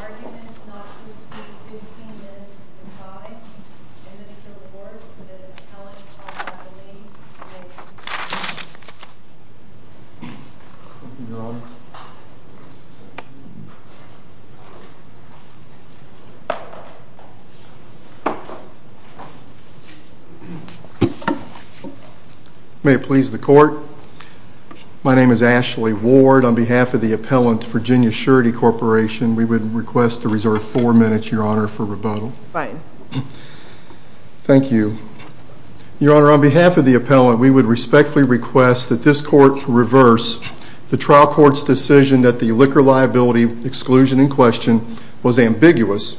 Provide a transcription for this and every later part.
Arguments not to receive 15 minutes in time and Mr. Ward with an appellant on the leave. Thank you. May it please the court. My name is Ashley Ward. On behalf of the appellant, Virginia Surety Corporation, we would request to reserve four minutes, your honor, for rebuttal. Thank you. Your honor, on behalf of the appellant, we would respectfully request that this court reverse the trial court's decision that the liquor liability exclusion in question was ambiguous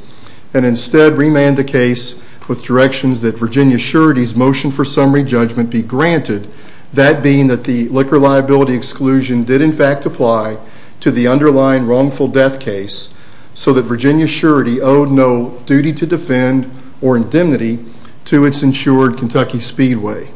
and instead remand the case with directions that Virginia Surety's motion for summary judgment be granted. That being that the liquor liability exclusion did in fact apply to the underlying wrongful death case so that Virginia Surety owed no duty to defend or indemnity to its insured Kentucky Speedway.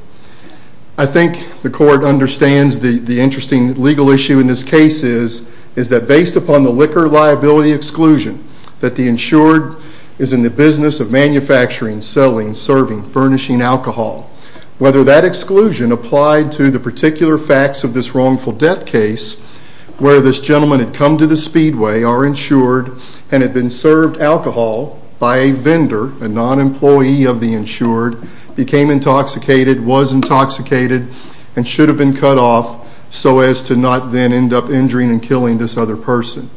I think the court understands the interesting legal issue in this case is that based upon the liquor liability exclusion that the insured is in the business of manufacturing, selling, serving, furnishing alcohol. Whether that exclusion applied to the particular facts of this wrongful death case where this gentleman had come to the Speedway, our insured, and had been served alcohol by a vendor, a non-employee of the insured, became intoxicated, was intoxicated, and should have been cut off so as to not then end up injuring and killing this other person.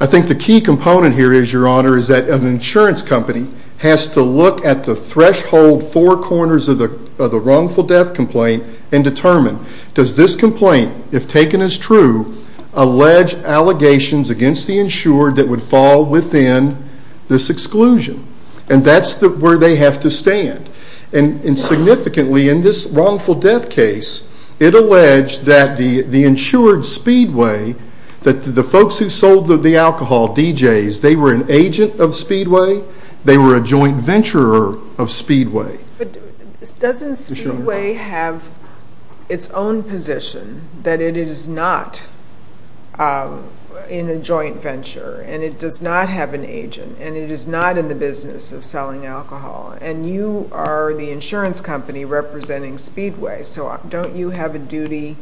I think the key component here is, your honor, is that an insurance company has to look at the threshold four corners of the wrongful death complaint and determine, does this complaint, if taken as true, allege allegations against the insured that would fall within this exclusion? And that's where they have to stand. And significantly, in this wrongful death case, it alleged that the insured Speedway, that the folks who sold the alcohol, DJs, they were an agent of Speedway, they were a joint venturer of Speedway. But doesn't Speedway have its own position that it is not in a joint venture, and it does not have an agent, and it is not in the business of selling alcohol, and you are the insurance company representing Speedway, so don't you have a duty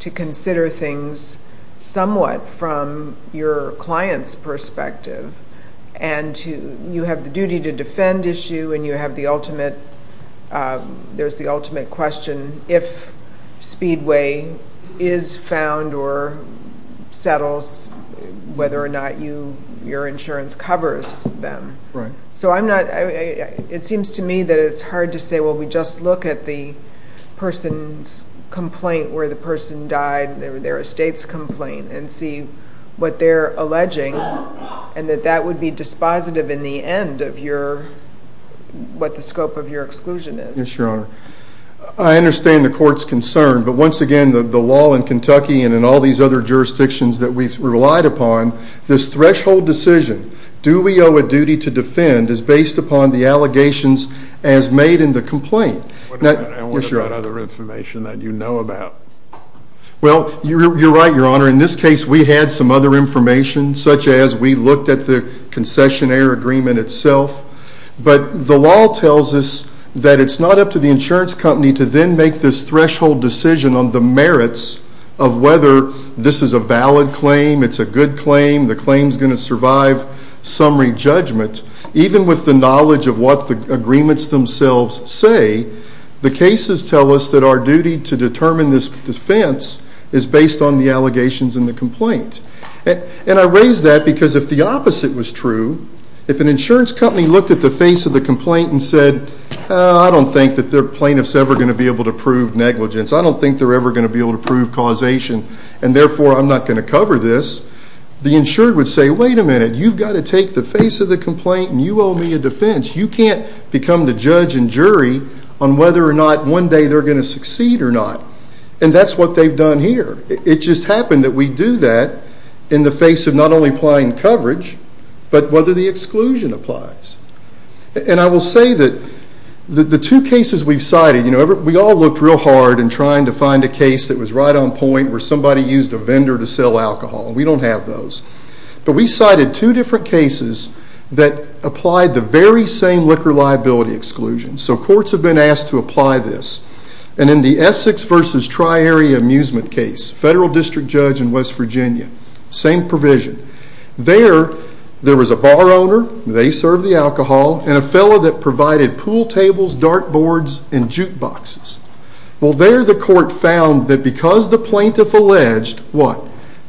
to consider things somewhat from your client's perspective? And you have the duty to defend issue, and you have the ultimate, there's the ultimate question, if Speedway is found or settles, whether or not your insurance covers them. So I'm not, it seems to me that it's hard to say, well, we just look at the person's complaint where the person died, their estate's complaint, and see what they're alleging, and that that would be dispositive in the end of your, what the scope of your exclusion is. I understand the court's concern, but once again, the law in Kentucky and in all these other jurisdictions that we've relied upon, this threshold decision, do we owe a duty to defend, is based upon the allegations as made in the complaint. And what about other information that you know about? Well, you're right, Your Honor. In this case, we had some other information, such as we looked at the concessionaire agreement itself. But the law tells us that it's not up to the insurance company to then make this threshold decision on the merits of whether this is a valid claim, it's a good claim, the claim's going to survive summary judgment. Even with the knowledge of what the agreements themselves say, the cases tell us that our duty to determine this defense is based on the allegations in the complaint. And I raise that because if the opposite was true, if an insurance company looked at the face of the complaint and said, I don't think that their plaintiff's ever going to be able to prove negligence, I don't think they're ever going to be able to prove causation, and therefore I'm not going to cover this, the insured would say, wait a minute, you've got to take the face of the complaint and you owe me a defense. You can't become the judge and jury on whether or not one day they're going to succeed or not. And that's what they've done here. It just happened that we do that in the face of not only applying coverage, but whether the exclusion applies. And I will say that the two cases we've cited, we all looked real hard in trying to find a case that was right on point where somebody used a vendor to sell alcohol. We don't have those. But we cited two different cases that applied the very same liquor liability exclusion. So courts have been asked to apply this. And in the Essex versus Tri-Area Amusement case, federal district judge in West Virginia, same provision. There, there was a bar owner, they served the alcohol, and a fellow that provided pool tables, dart boards, and jukeboxes. Well, there the court found that because the plaintiff alleged, what?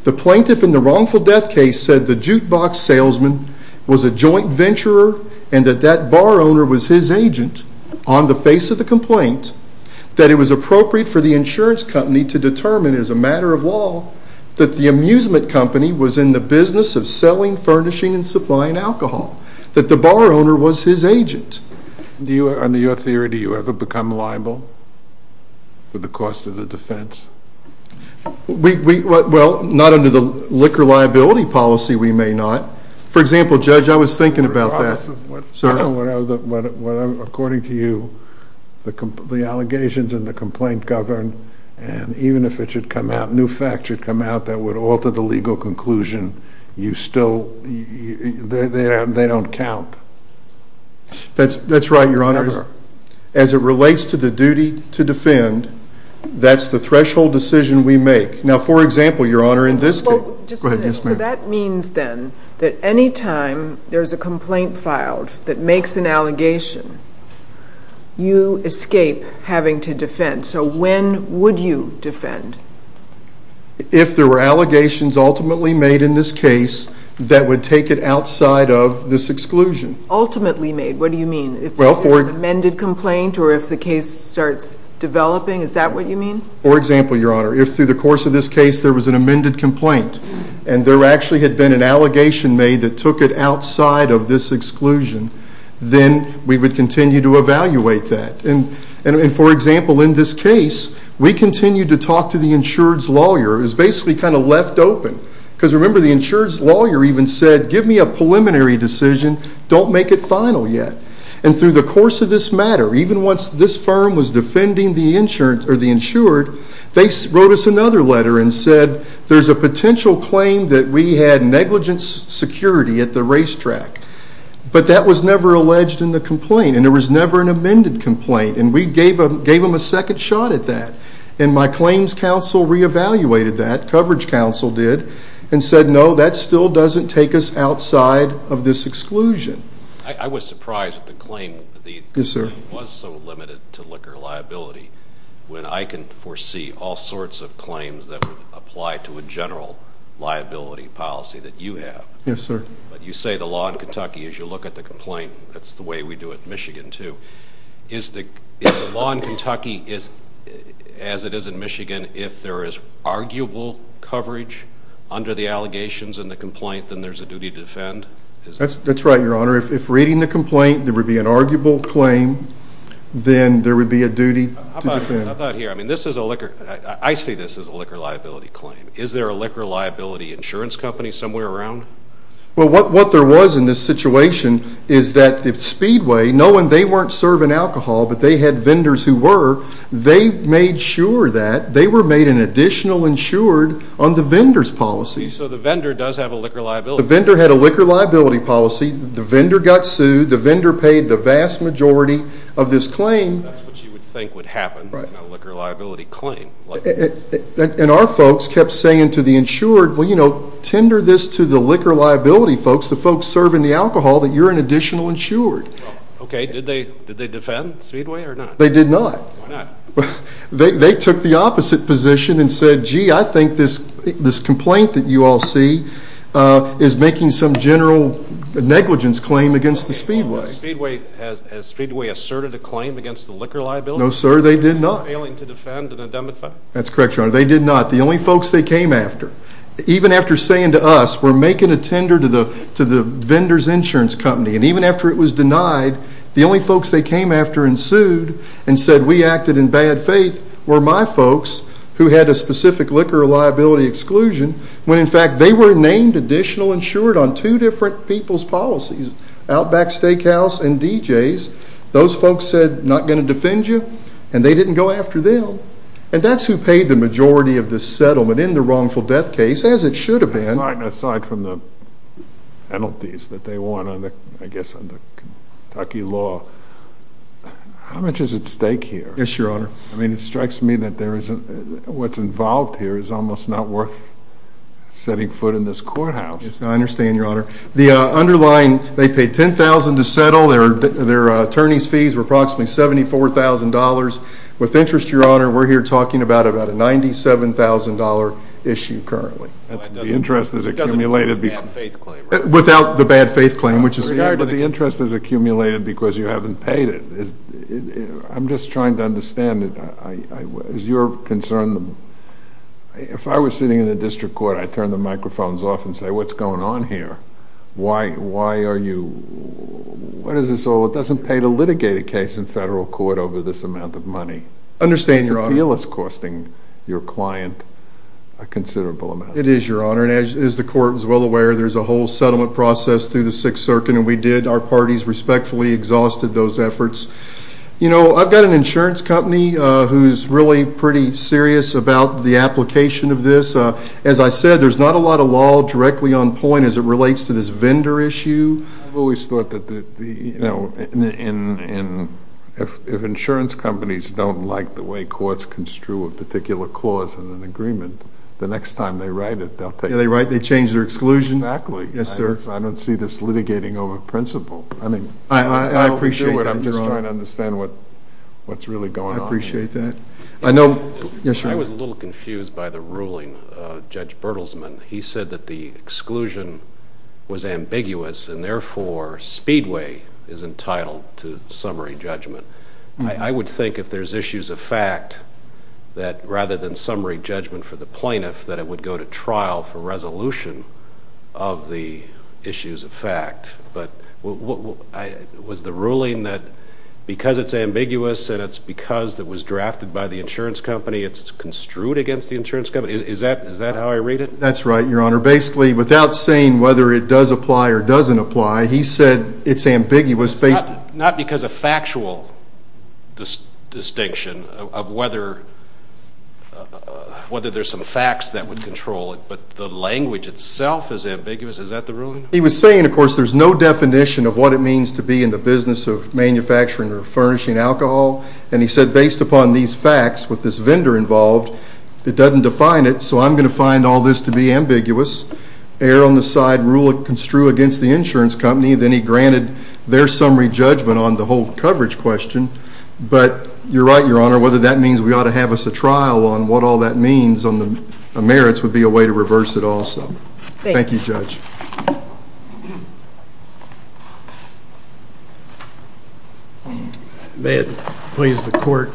The plaintiff in the wrongful death case said the jukebox salesman was a joint venturer and that that bar owner was his agent on the face of the complaint, that it was appropriate for the insurance company to determine as a matter of law that the amusement company was in the business of selling, furnishing, and supplying alcohol. That the bar owner was his agent. Do you, under your theory, do you ever become liable for the cost of the defense? We, well, not under the liquor liability policy we may not. For example, Judge, I was thinking about that. Sir? Well, according to you, the allegations in the complaint govern, and even if it should come out, new facts should come out that would alter the legal conclusion, you still, they don't count. That's right, Your Honor. As it relates to the duty to defend, that's the threshold decision we make. Now, for example, Your Honor, in this case. Go ahead, yes, ma'am. So that means, then, that any time there's a complaint filed that makes an allegation, you escape having to defend. So when would you defend? If there were allegations ultimately made in this case that would take it outside of this exclusion. Ultimately made, what do you mean? If there was an amended complaint or if the case starts developing, is that what you mean? For example, Your Honor, if through the course of this case there was an amended complaint and there actually had been an allegation made that took it outside of this exclusion, then we would continue to evaluate that. And, for example, in this case, we continued to talk to the insured's lawyer. It was basically kind of left open. Because, remember, the insured's lawyer even said, give me a preliminary decision, don't make it final yet. And through the course of this matter, even once this firm was defending the insured, they wrote us another letter and said, there's a potential claim that we had negligence security at the racetrack. But that was never alleged in the complaint. And there was never an amended complaint. And we gave them a second shot at that. And my claims counsel reevaluated that, coverage counsel did, and said, no, that still doesn't take us outside of this exclusion. I was surprised at the claim. Yes, sir. The claim was so limited to liquor liability when I can foresee all sorts of claims that would apply to a general liability policy that you have. Yes, sir. But you say the law in Kentucky, as you look at the complaint, that's the way we do it in Michigan, too. Is the law in Kentucky, as it is in Michigan, if there is arguable coverage under the allegations in the complaint, then there's a duty to defend? That's right, Your Honor. If reading the complaint there would be an arguable claim, then there would be a duty to defend. How about here? I mean, this is a liquor ‑‑ I say this is a liquor liability claim. Is there a liquor liability insurance company somewhere around? Well, what there was in this situation is that Speedway, knowing they weren't serving alcohol but they had vendors who were, they made sure that they were made an additional insured on the vendor's policy. So the vendor does have a liquor liability. The vendor had a liquor liability policy. The vendor got sued. The vendor paid the vast majority of this claim. That's what you would think would happen in a liquor liability claim. And our folks kept saying to the insured, well, you know, tender this to the liquor liability folks, the folks serving the alcohol, that you're an additional insured. Okay. Did they defend Speedway or not? They did not. Why not? They took the opposite position and said, gee, I think this complaint that you all see is making some general negligence claim against the Speedway. Has Speedway asserted a claim against the liquor liability? No, sir, they did not. Failing to defend and indemnify? That's correct, Your Honor. They did not. The only folks they came after, even after saying to us, we're making a tender to the vendor's insurance company, and even after it was denied, the only folks they came after and sued and said, we acted in bad faith, were my folks who had a specific liquor liability exclusion when, in fact, they were named additional insured on two different people's policies, Outback Steakhouse and DJ's. Those folks said, not going to defend you, and they didn't go after them. And that's who paid the majority of the settlement in the wrongful death case, as it should have been. Aside from the penalties that they won, I guess, under Kentucky law, how much is at stake here? Yes, Your Honor. I mean, it strikes me that what's involved here is almost not worth setting foot in this courthouse. I understand, Your Honor. The underlying, they paid $10,000 to settle. Their attorney's fees were approximately $74,000. With interest, Your Honor, we're here talking about a $97,000 issue currently. It doesn't include the bad faith claim, right? Without the bad faith claim, which is here. But the interest is accumulated because you haven't paid it. I'm just trying to understand. As you're concerned, if I was sitting in the district court, I'd turn the microphones off and say, what's going on here? Why are you, what is this all? It doesn't pay to litigate a case in federal court over this amount of money. I understand, Your Honor. I feel it's costing your client a considerable amount. It is, Your Honor. And as the court is well aware, there's a whole settlement process through the Sixth Circuit, and we did, our parties respectfully exhausted those efforts. You know, I've got an insurance company who's really pretty serious about the application of this. As I said, there's not a lot of law directly on point as it relates to this vendor issue. I've always thought that, you know, if insurance companies don't like the way courts construe a particular clause in an agreement, the next time they write it, they'll take it. Yeah, they write, they change their exclusion. Exactly. Yes, sir. I don't see this litigating over principle. I appreciate that, Your Honor. I'm just trying to understand what's really going on. I appreciate that. I know. Yes, sir. I was a little confused by the ruling of Judge Bertelsmann. He said that the exclusion was ambiguous and, therefore, Speedway is entitled to summary judgment. I would think if there's issues of fact, that rather than summary judgment for the plaintiff, that it would go to trial for resolution of the issues of fact. But was the ruling that because it's ambiguous and it's because it was drafted by the insurance company, it's construed against the insurance company? Is that how I read it? That's right, Your Honor. Basically, without saying whether it does apply or doesn't apply, he said it's ambiguous. Not because of factual distinction of whether there's some facts that would control it, but the language itself is ambiguous. Is that the ruling? He was saying, of course, there's no definition of what it means to be in the business of manufacturing or furnishing alcohol. And he said, based upon these facts with this vendor involved, it doesn't define it. So I'm going to find all this to be ambiguous. Err on the side, rule construed against the insurance company. Then he granted their summary judgment on the whole coverage question. But you're right, Your Honor. Whether that means we ought to have us a trial on what all that means on the merits would be a way to reverse it also. Thank you. Thank you, Judge. May it please the court.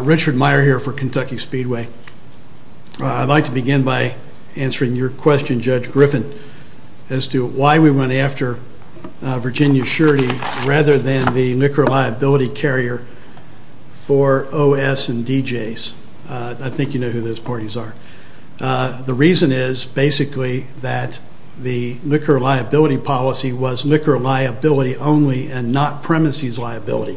Richard Meyer here for Kentucky Speedway. I'd like to begin by answering your question, Judge Griffin, as to why we went after Virginia Surety rather than the liquor liability carrier for OS and DJs. I think you know who those parties are. The reason is basically that the liquor liability policy was liquor liability only and not premises liability.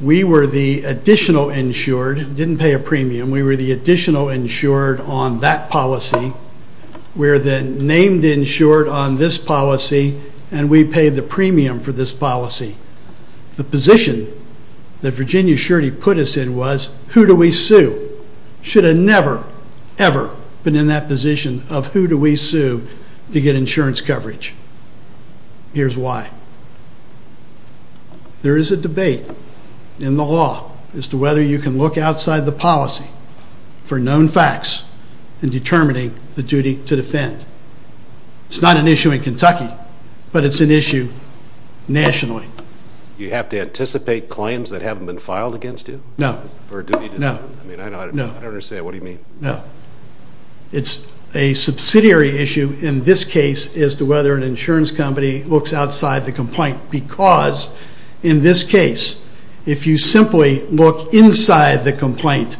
We were the additional insured. Didn't pay a premium. We were the additional insured on that policy. We're the named insured on this policy. And we paid the premium for this policy. The position that Virginia Surety put us in was, who do we sue? Should have never, ever been in that position of who do we sue to get insurance coverage. Here's why. There is a debate in the law as to whether you can look outside the policy for known facts in determining the duty to defend. It's not an issue in Kentucky, but it's an issue nationally. You have to anticipate claims that haven't been filed against you? No. I don't understand. What do you mean? No. It's a subsidiary issue in this case as to whether an insurance company looks outside the complaint. Because in this case, if you simply look inside the complaint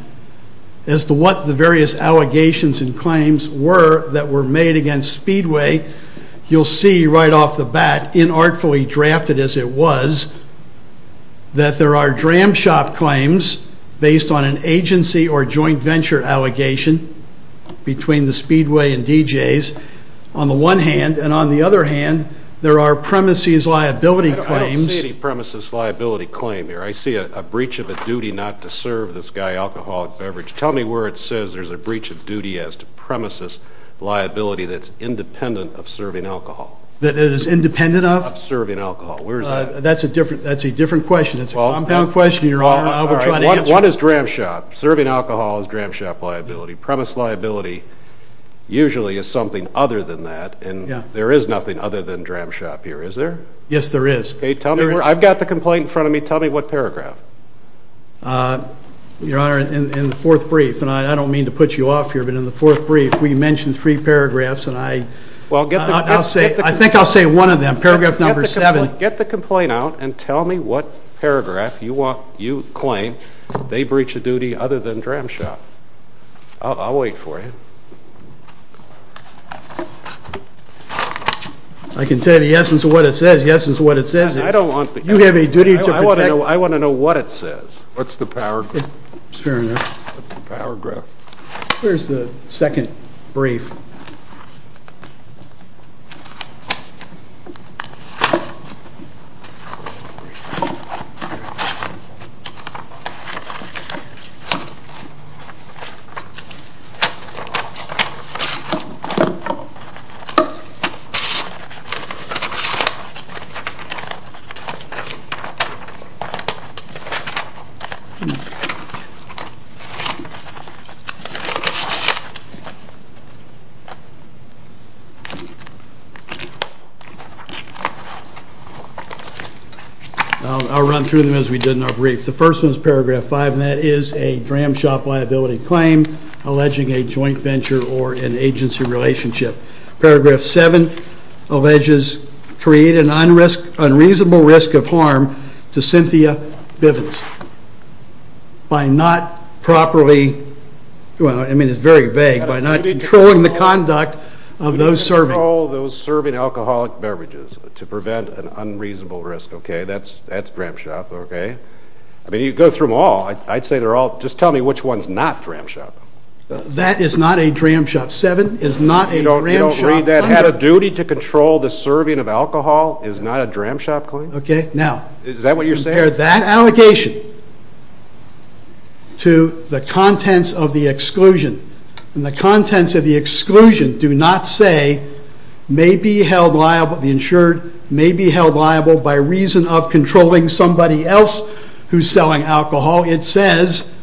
as to what the various allegations and claims were that were made against Speedway, you'll see right off the bat, inartfully drafted as it was, that there are dram shop claims based on an agency or joint venture allegation between the Speedway and DJs. On the one hand, and on the other hand, there are premises liability claims. I don't see any premises liability claim here. I see a breach of a duty not to serve this guy alcoholic beverage. Tell me where it says there's a breach of duty as to premises liability that's independent of serving alcohol. That it is independent of? Of serving alcohol. Where is that? That's a different question. It's a compound question. I'll try to answer it. One is dram shop. Serving alcohol is dram shop liability. Premise liability usually is something other than that, and there is nothing other than dram shop here, is there? Yes, there is. I've got the complaint in front of me. Tell me what paragraph. Your Honor, in the fourth brief, and I don't mean to put you off here, but in the fourth brief, we mentioned three paragraphs, and I think I'll say one of them. Paragraph number seven. Get the complaint out and tell me what paragraph you claim they breach of duty other than dram shop. I'll wait for you. I can tell you the essence of what it says. The essence of what it says is you have a duty to protect. I want to know what it says. What's the paragraph? Your Honor. What's the paragraph? Here's the second brief. I'll run through them as we did in our brief. The first one is paragraph five, and that is a dram shop liability claim alleging a joint venture or an agency relationship. Paragraph seven alleges create an unreasonable risk of harm to Cynthia Bivens by not properly, well, I mean, it's very vague, by not controlling the conduct of those serving. By not controlling those serving alcoholic beverages to prevent an unreasonable risk, okay? That's dram shop, okay? I mean, you go through them all. I'd say they're all, just tell me which one's not dram shop. That is not a dram shop. Paragraph seven is not a dram shop claim. You don't read that? Had a duty to control the serving of alcohol is not a dram shop claim? Okay, now. Is that what you're saying? Compare that allegation to the contents of the exclusion. And the contents of the exclusion do not say may be held liable, the insured may be held liable by reason of controlling somebody else who's selling alcohol. It says,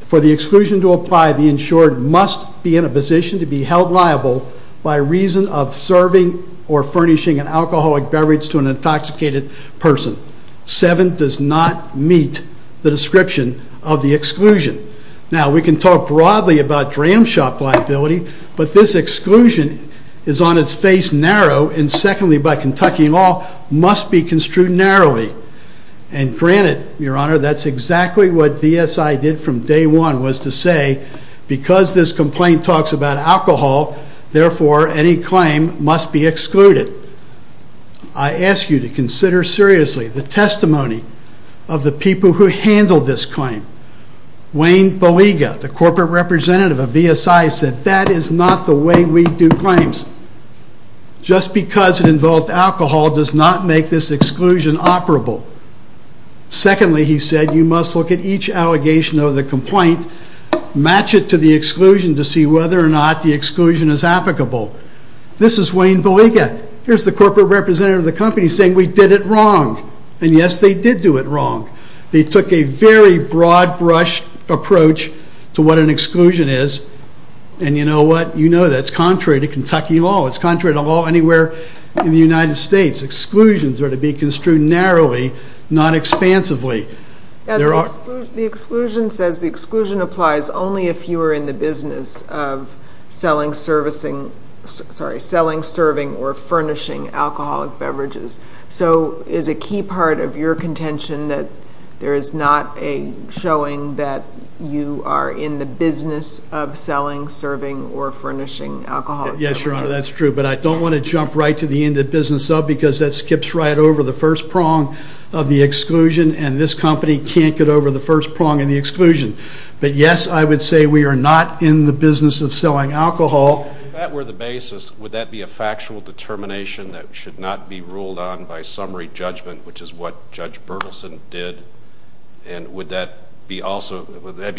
for the exclusion to apply, the insured must be in a position to be held liable by reason of serving or furnishing an alcoholic beverage to an intoxicated person. Seven does not meet the description of the exclusion. Now, we can talk broadly about dram shop liability, but this exclusion is on its face narrow and secondly, by Kentucky law, must be construed narrowly. And granted, your honor, that's exactly what VSI did from day one was to say, because this complaint talks about alcohol, therefore, any claim must be excluded. I ask you to consider seriously the testimony of the people who handled this claim. Wayne Baliga, the corporate representative of VSI said, that is not the way we do claims. Just because it involved alcohol does not make this exclusion operable. Secondly, he said, you must look at each allegation of the complaint, match it to the exclusion to see whether or not the exclusion is applicable. This is Wayne Baliga. Here's the corporate representative of the company saying, we did it wrong. And yes, they did do it wrong. They took a very broad brush approach to what an exclusion is, and you know what? You know that's contrary to Kentucky law. It's contrary to law anywhere in the United States. Exclusions are to be construed narrowly, not expansively. The exclusion says the exclusion applies only if you are in the business of selling, serving, or furnishing alcoholic beverages. So is a key part of your contention that there is not a showing that you are in the business of selling, serving, or furnishing alcoholic beverages? Yes, Your Honor, that's true. But I don't want to jump right to the end of business because that skips right over the first prong of the exclusion, and this company can't get over the first prong of the exclusion. But yes, I would say we are not in the business of selling alcohol. If that were the basis, would that be a factual determination that should not be ruled on by summary judgment, which is what Judge Berthelsen did? And would that be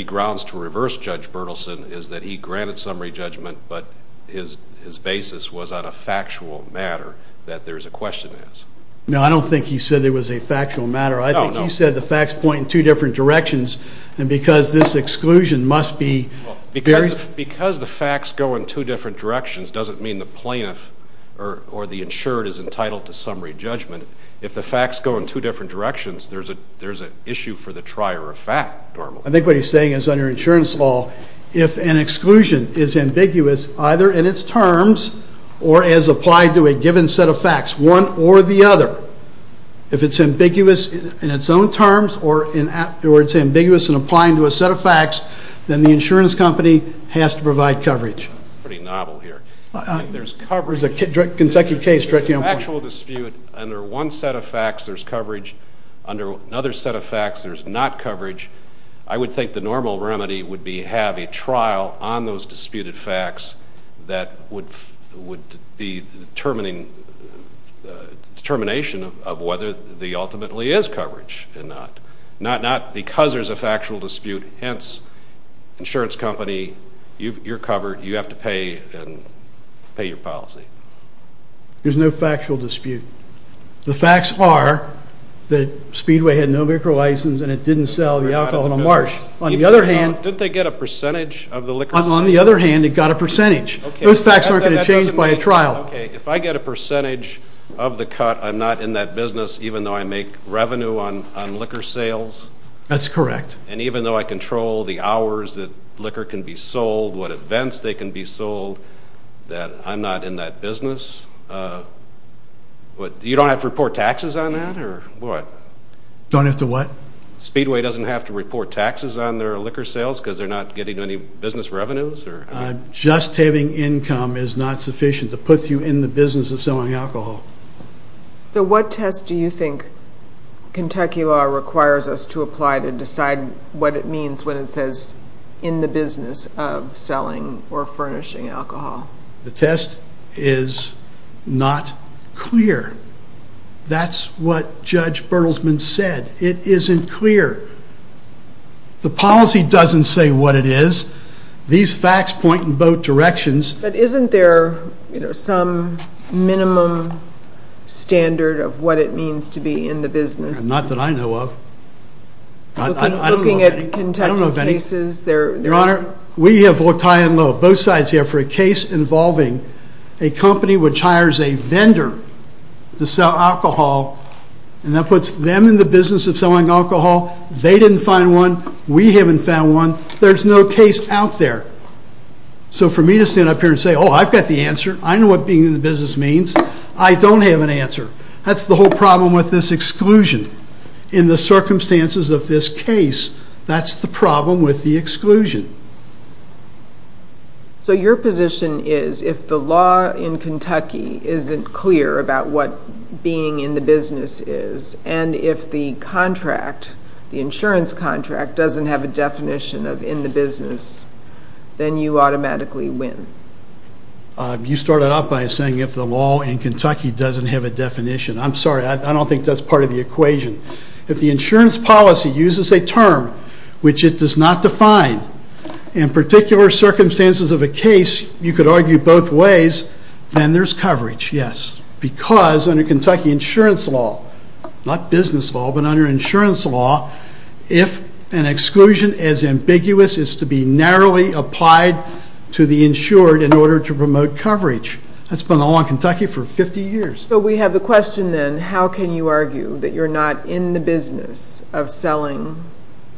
grounds to reverse Judge Berthelsen, is that he granted summary judgment, but his basis was on a factual matter that there is a question to ask? No, I don't think he said there was a factual matter. I think he said the facts point in two different directions, and because this exclusion must be various. Because the facts go in two different directions doesn't mean the plaintiff or the insured is entitled to summary judgment. If the facts go in two different directions, there's an issue for the trier of fact normally. I think what he's saying is under insurance law, if an exclusion is ambiguous either in its terms or as applied to a given set of facts, one or the other, if it's ambiguous in its own terms or it's ambiguous in applying to a set of facts, then the insurance company has to provide coverage. That's pretty novel here. There's coverage. It's a Kentucky case, directly on point. There's a factual dispute. Under one set of facts, there's coverage. Under another set of facts, there's not coverage. I would think the normal remedy would be have a trial on those disputed facts that would be the determination of whether there ultimately is coverage or not. Not because there's a factual dispute. Hence, insurance company, you're covered. You have to pay your policy. There's no factual dispute. The facts are that Speedway had no liquor license and it didn't sell the alcohol in the marsh. On the other hand... Didn't they get a percentage of the liquor sales? On the other hand, it got a percentage. Those facts aren't going to change by a trial. Okay. If I get a percentage of the cut, I'm not in that business even though I make revenue on liquor sales? That's correct. And even though I control the hours that liquor can be sold, what events they can be sold, that I'm not in that business? You don't have to report taxes on that or what? Don't have to what? Speedway doesn't have to report taxes on their liquor sales because they're not getting any business revenues? Just having income is not sufficient to put you in the business of selling alcohol. So what test do you think Kentucky law requires us to apply to decide what it means when it says in the business of selling or furnishing alcohol? The test is not clear. That's what Judge Bertelsman said. It isn't clear. The policy doesn't say what it is. These facts point in both directions. But isn't there some minimum standard of what it means to be in the business? Not that I know of. Looking at Kentucky cases, there is? Your Honor, we have looked high and low, both sides here, for a case involving a company which hires a vendor to sell alcohol and that puts them in the business of selling alcohol. They didn't find one. We haven't found one. There's no case out there. So for me to stand up here and say, oh, I've got the answer. I know what being in the business means. I don't have an answer. That's the whole problem with this exclusion. In the circumstances of this case, that's the problem with the exclusion. So your position is if the law in Kentucky isn't clear about what being in the business is and if the insurance contract doesn't have a definition of in the business, then you automatically win. You started off by saying if the law in Kentucky doesn't have a definition. I'm sorry. I don't think that's part of the equation. If the insurance policy uses a term which it does not define, in particular circumstances of a case you could argue both ways, then there's coverage, yes. Because under Kentucky insurance law, not business law, but under insurance law, if an exclusion is ambiguous, it's to be narrowly applied to the insured in order to promote coverage. That's been the law in Kentucky for 50 years. So we have the question then, how can you argue that you're not in the business of selling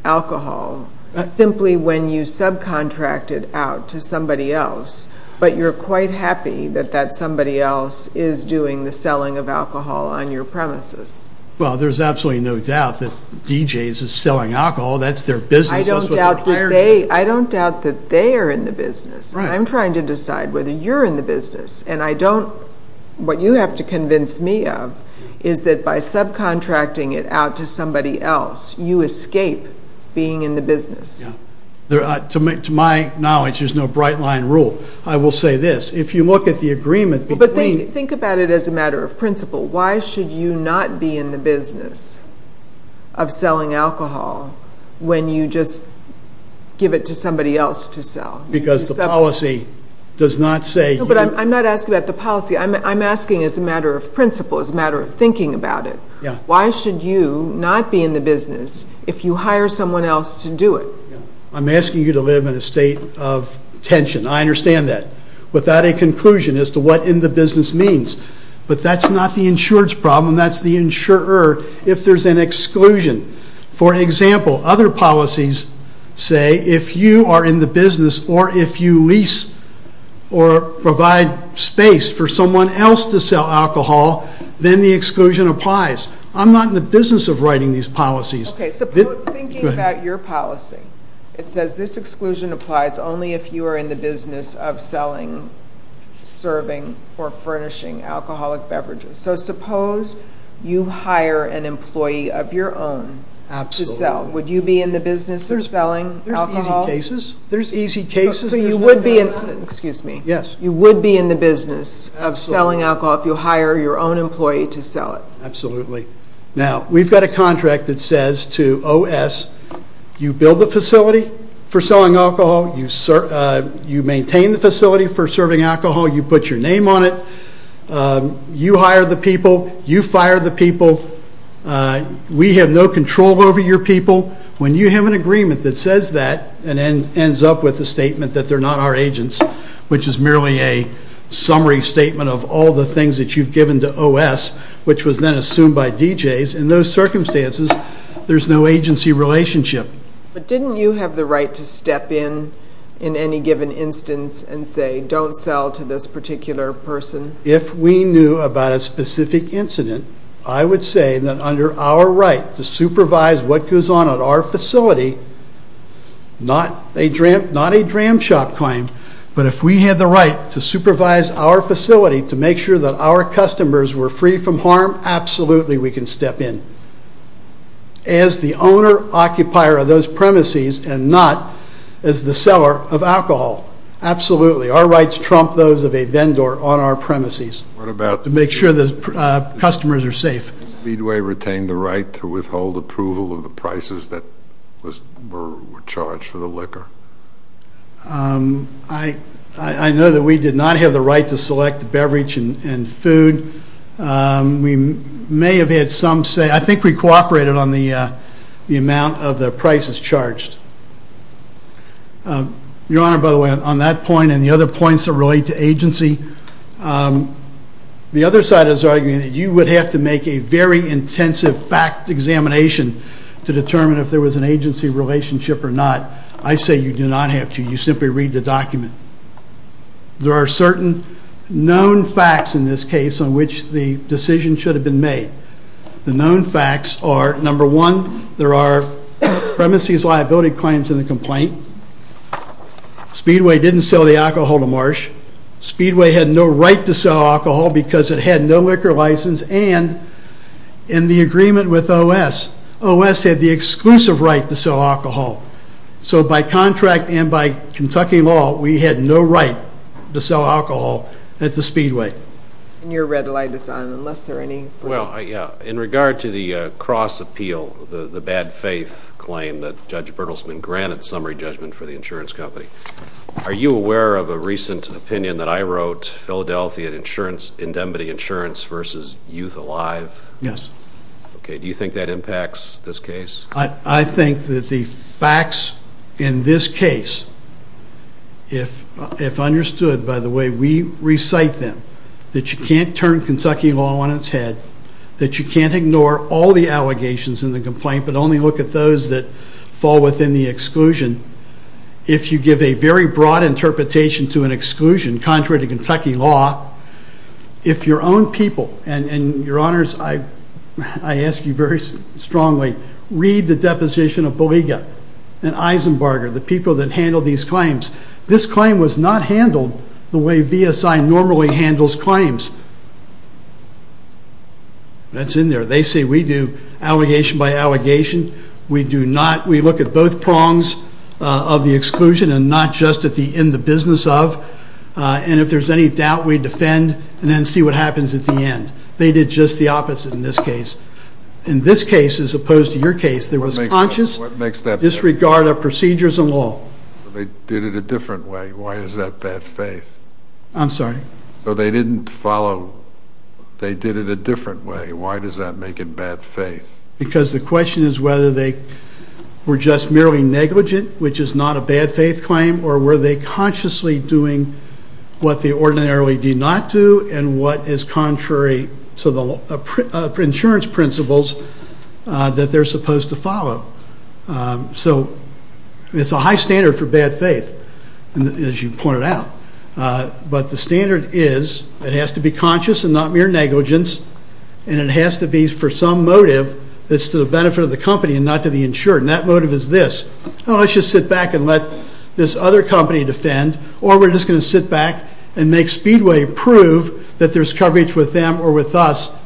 alcohol simply when you subcontract it out to somebody else, but you're quite happy that that somebody else is doing the selling of alcohol on your premises? Well, there's absolutely no doubt that DJs is selling alcohol. That's their business. I don't doubt that they are in the business. I'm trying to decide whether you're in the business. And what you have to convince me of is that by subcontracting it out to somebody else, you escape being in the business. To my knowledge, there's no bright line rule. I will say this. If you look at the agreement between Think about it as a matter of principle. Why should you not be in the business of selling alcohol when you just give it to somebody else to sell? Because the policy does not say No, but I'm not asking about the policy. I'm asking as a matter of principle, as a matter of thinking about it. Why should you not be in the business if you hire someone else to do it? I'm asking you to live in a state of tension. I understand that. Without a conclusion as to what in the business means. But that's not the insurer's problem. That's the insurer if there's an exclusion. For example, other policies say if you are in the business or if you lease or provide space for someone else to sell alcohol, then the exclusion applies. I'm not in the business of writing these policies. Okay, so thinking about your policy, it says this exclusion applies only if you are in the business of selling, serving, or furnishing alcoholic beverages. So suppose you hire an employee of your own to sell. Would you be in the business of selling alcohol? There's easy cases. So you would be in the business of selling alcohol if you hire your own employee to sell it. Absolutely. Now, we've got a contract that says to OS, you build the facility for selling alcohol, you maintain the facility for serving alcohol, you put your name on it, you hire the people, you fire the people, we have no control over your people. When you have an agreement that says that and ends up with a statement that they're not our agents, which is merely a summary statement of all the things that you've given to OS, which was then assumed by DJs, in those circumstances there's no agency relationship. But didn't you have the right to step in in any given instance and say don't sell to this particular person? If we knew about a specific incident, I would say that under our right to supervise what goes on at our facility, not a dram shop claim, but if we had the right to supervise our facility to make sure that our customers were free from harm, absolutely we can step in as the owner-occupier of those premises and not as the seller of alcohol. Absolutely. Our rights trump those of a vendor on our premises to make sure the customers are safe. Did Leadway retain the right to withhold approval of the prices that were charged for the liquor? I know that we did not have the right to select the beverage and food. We may have had some say. I think we cooperated on the amount of the prices charged. Your Honor, by the way, on that point and the other points that relate to agency, the other side is arguing that you would have to make a very intensive fact examination to determine if there was an agency relationship or not. I say you do not have to. You simply read the document. There are certain known facts in this case on which the decision should have been made. The known facts are, number one, there are premises liability claims in the complaint. Speedway didn't sell the alcohol to Marsh. Speedway had no right to sell alcohol because it had no liquor license and in the agreement with OS, OS had the exclusive right to sell alcohol. So by contract and by Kentucky law, we had no right to sell alcohol at the Speedway. And your red light is on unless there are any further questions. In regard to the cross appeal, the bad faith claim that Judge Bertelsmann granted summary judgment for the insurance company, are you aware of a recent opinion that I wrote, Philadelphia Insurance Indemnity Insurance versus Youth Alive? Yes. Okay. Do you think that impacts this case? I think that the facts in this case, if understood by the way we recite them, that you can't turn Kentucky law on its head, that you can't ignore all the allegations in the complaint but only look at those that fall within the exclusion. If you give a very broad interpretation to an exclusion contrary to Kentucky law, if your own people, and your honors, I ask you very strongly, read the deposition of Baliga and Eisenbarger, the people that handled these claims. This claim was not handled the way VSI normally handles claims. That's in there. They say we do allegation by allegation. We do not. We look at both prongs of the exclusion and not just at the in the business of. And if there's any doubt, we defend and then see what happens at the end. They did just the opposite in this case. In this case, as opposed to your case, there was conscious disregard of procedures and law. They did it a different way. Why is that bad faith? I'm sorry? So they didn't follow. They did it a different way. Why does that make it bad faith? Because the question is whether they were just merely negligent, which is not a bad faith claim, or were they consciously doing what they ordinarily do not do and what is contrary to the insurance principles that they're supposed to follow. So it's a high standard for bad faith, as you pointed out. But the standard is it has to be conscious and not mere negligence, and it has to be for some motive that's to the benefit of the company and not to the insured, and that motive is this. Let's just sit back and let this other company defend, or we're just going to sit back and make Speedway prove that there's coverage with them or with us,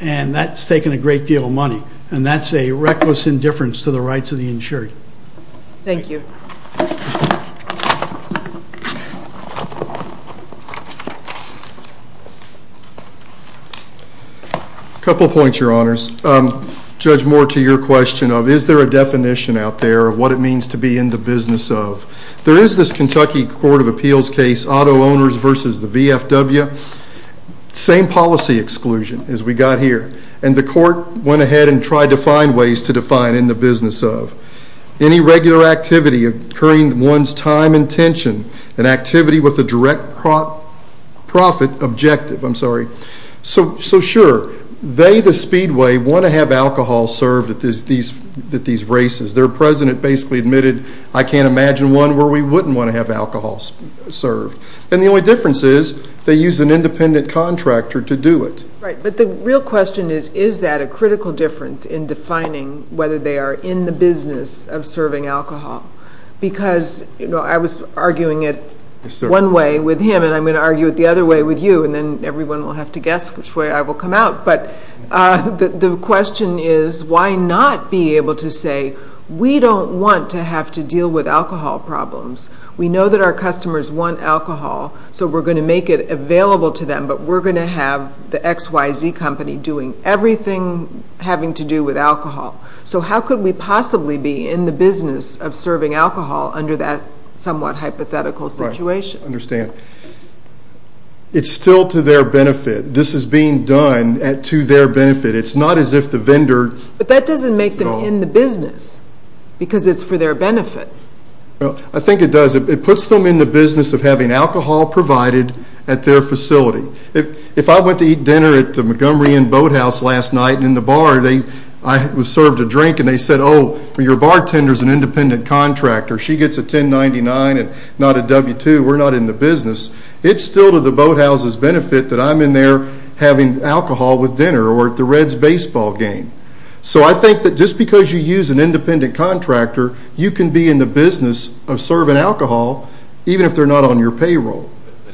and that's taking a great deal of money, and that's a reckless indifference to the rights of the insured. Thank you. A couple points, Your Honors. Judge Moore, to your question of is there a definition out there of what it means to be in the business of, there is this Kentucky Court of Appeals case, auto owners versus the VFW, same policy exclusion as we got here, and the court went ahead and tried to find ways to define in the business of. Any regular activity occurring to one's time and intention, an activity with a direct profit objective, I'm sorry. So sure, they, the Speedway, want to have alcohol served at these races. Their president basically admitted, I can't imagine one where we wouldn't want to have alcohol served. And the only difference is they use an independent contractor to do it. Right. But the real question is, is that a critical difference in defining whether they are in the business of serving alcohol? Because, you know, I was arguing it one way with him, and I'm going to argue it the other way with you, and then everyone will have to guess which way I will come out. But the question is, why not be able to say, we don't want to have to deal with alcohol problems. We know that our customers want alcohol, so we're going to make it available to them, but we're going to have the X, Y, Z company doing everything having to do with alcohol. So how could we possibly be in the business of serving alcohol under that somewhat hypothetical situation? I understand. It's still to their benefit. This is being done to their benefit. It's not as if the vendor is involved. But that doesn't make them in the business because it's for their benefit. I think it does. It puts them in the business of having alcohol provided at their facility. If I went to eat dinner at the Montgomery Inn Boathouse last night in the bar, I served a drink, and they said, oh, your bartender is an independent contractor. She gets a 1099 and not a W-2. We're not in the business. It's still to the boathouse's benefit that I'm in there having alcohol with dinner or at the Reds baseball game. So I think that just because you use an independent contractor, you can be in the business of serving alcohol, even if they're not on your payroll.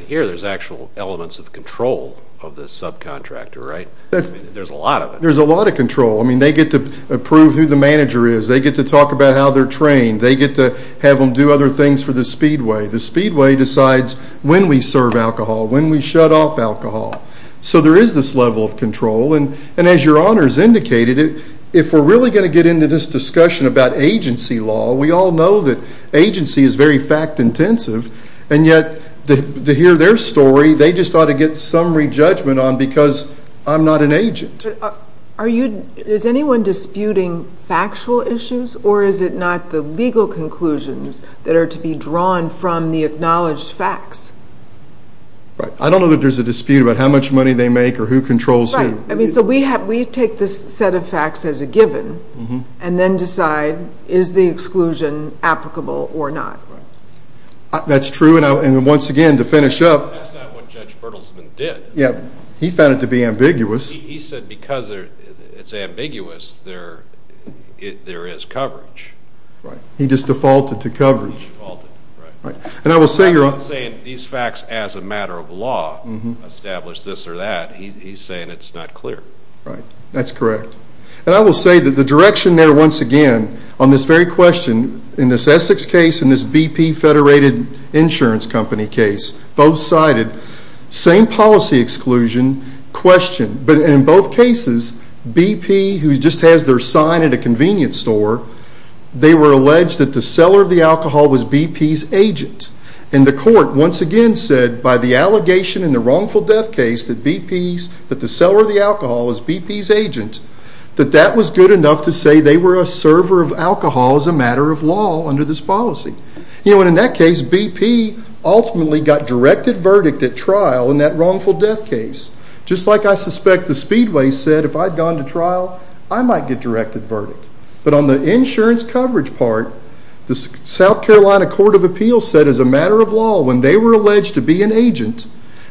Here there's actual elements of control of this subcontractor, right? There's a lot of it. There's a lot of control. I mean, they get to approve who the manager is. They get to talk about how they're trained. They get to have them do other things for the Speedway. The Speedway decides when we serve alcohol, when we shut off alcohol. So there is this level of control. And as your honors indicated, if we're really going to get into this discussion about agency law, we all know that agency is very fact-intensive, and yet to hear their story, they just ought to get some re-judgment on because I'm not an agent. Is anyone disputing factual issues, or is it not the legal conclusions that are to be drawn from the acknowledged facts? I don't know that there's a dispute about how much money they make or who controls who. So we take this set of facts as a given and then decide, is the exclusion applicable or not? That's true, and once again, to finish up. That's not what Judge Bertelsman did. He found it to be ambiguous. He said because it's ambiguous, there is coverage. He just defaulted to coverage. I'm not saying these facts, as a matter of law, establish this or that. He's saying it's not clear. That's correct. And I will say that the direction there, once again, on this very question, in this Essex case and this BP Federated Insurance Company case, both cited same policy exclusion question. But in both cases, BP, who just has their sign at a convenience store, they were alleged that the seller of the alcohol was BP's agent. And the court, once again, said by the allegation in the wrongful death case that the seller of the alcohol was BP's agent, that that was good enough to say they were a server of alcohol as a matter of law under this policy. And in that case, BP ultimately got directed verdict at trial in that wrongful death case. Just like I suspect the Speedway said, if I'd gone to trial, I might get directed verdict. But on the insurance coverage part, the South Carolina Court of Appeals said, as a matter of law, when they were alleged to be an agent,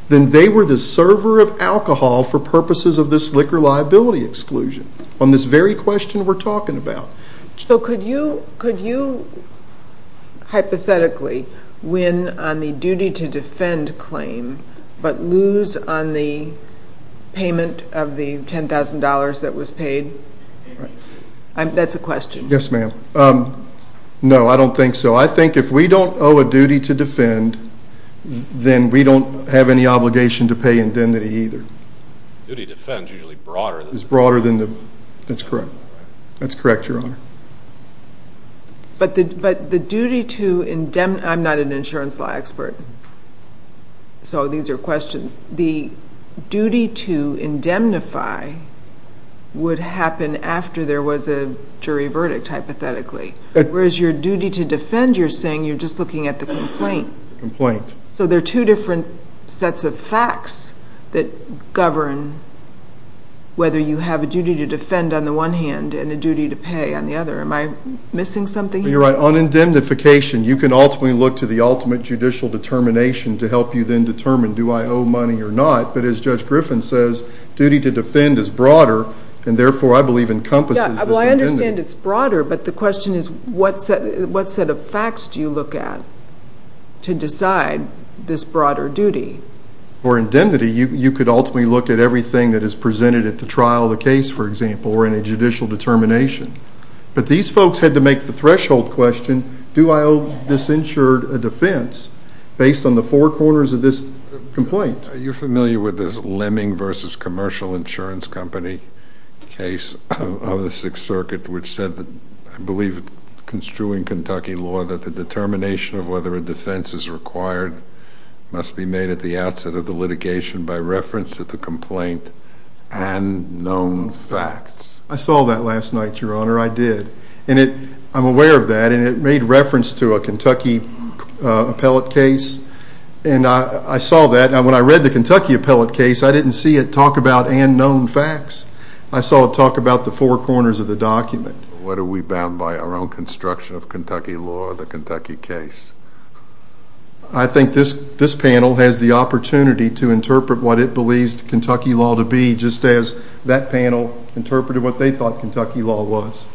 then they were the server of alcohol for purposes of this liquor liability exclusion, on this very question we're talking about. So could you hypothetically win on the duty to defend claim but lose on the payment of the $10,000 that was paid? That's a question. Yes, ma'am. No, I don't think so. I think if we don't owe a duty to defend, then we don't have any obligation to pay indemnity either. Duty to defend is usually broader than the... It's broader than the... That's correct. That's correct, Your Honor. But the duty to indemnify... I'm not an insurance law expert, so these are questions. The duty to indemnify would happen after there was a jury verdict, hypothetically, whereas your duty to defend, you're saying you're just looking at the complaint. Complaint. So there are two different sets of facts that govern whether you have a duty to defend on the one hand and a duty to pay on the other. Am I missing something here? You're right. On indemnification, you can ultimately look to the ultimate judicial determination to help you then determine, do I owe money or not? But as Judge Griffin says, duty to defend is broader, and therefore, I believe, encompasses this indemnity. Well, I understand it's broader, but the question is, what set of facts do you look at to decide this broader duty? For indemnity, you could ultimately look at everything that is presented at the trial of the case, for example, or in a judicial determination. But these folks had to make the threshold question, do I owe this insured a defense? Based on the four corners of this complaint. Are you familiar with this Lemming v. Commercial Insurance Company case of the Sixth Circuit, which said, I believe, construing Kentucky law, that the determination of whether a defense is required must be made at the outset of the litigation by reference to the complaint and known facts. I saw that last night, Your Honor. I did. I'm aware of that, and it made reference to a Kentucky appellate case. And I saw that, and when I read the Kentucky appellate case, I didn't see it talk about unknown facts. I saw it talk about the four corners of the document. What are we bound by, our own construction of Kentucky law or the Kentucky case? I think this panel has the opportunity to interpret what it believes Kentucky law to be, just as that panel interpreted what they thought Kentucky law was.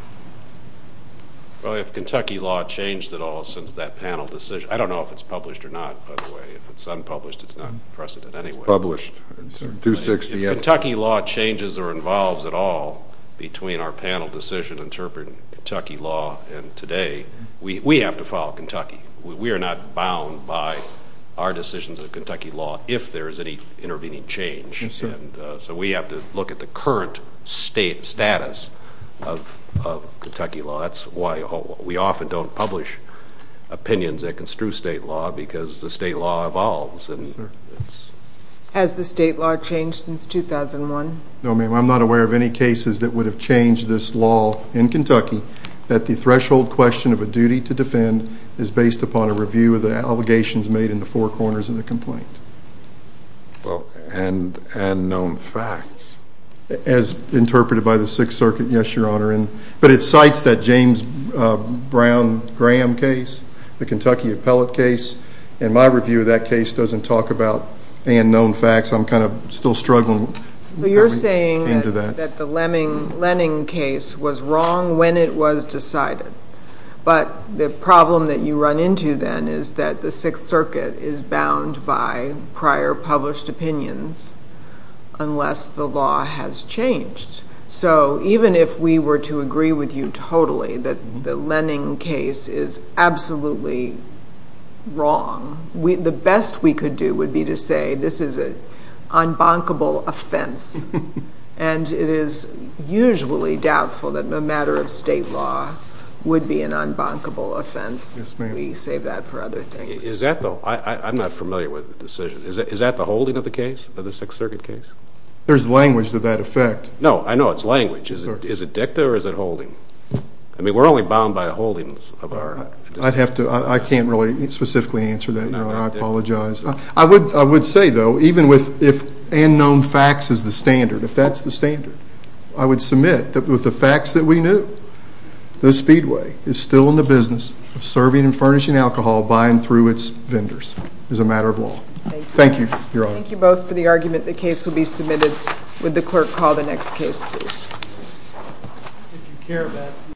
Well, if Kentucky law changed at all since that panel decision, I don't know if it's published or not, by the way. If it's unpublished, it's not precedent anyway. It's published. If Kentucky law changes or involves at all between our panel decision interpreting Kentucky law and today, we have to follow Kentucky. We are not bound by our decisions of Kentucky law if there is any intervening change. Yes, sir. So we have to look at the current status of Kentucky law. That's why we often don't publish opinions that construe state law because the state law evolves. Yes, sir. Has the state law changed since 2001? No, ma'am. I'm not aware of any cases that would have changed this law in Kentucky, that the threshold question of a duty to defend is based upon a review of the allegations made in the four corners of the complaint. Well, and known facts. As interpreted by the Sixth Circuit, yes, Your Honor. But it cites that James Brown Graham case, the Kentucky appellate case, and my review of that case doesn't talk about and known facts. I'm kind of still struggling. So you're saying that the Lenning case was wrong when it was decided, but the problem that you run into then is that the Sixth Circuit is bound by prior published opinions unless the law has changed. So even if we were to agree with you totally that the Lenning case is absolutely wrong, the best we could do would be to say this is an unbunkable offense, and it is usually doubtful that a matter of state law would be an unbunkable offense. Yes, ma'am. We save that for other things. Is that, though? I'm not familiar with the decision. Is that the holding of the case, of the Sixth Circuit case? There's language to that effect. No, I know it's language. Is it dicta or is it holding? I mean, we're only bound by holdings of our... I'd have to... I can't really specifically answer that, Your Honor. I apologize. I would say, though, even if unknown facts is the standard, if that's the standard, I would submit that with the facts that we knew, the Speedway is still in the business of serving and furnishing alcohol by and through its vendors as a matter of law. Thank you. Thank you, Your Honor. Thank you both for the argument. The case will be submitted. Would the clerk call the next case, please?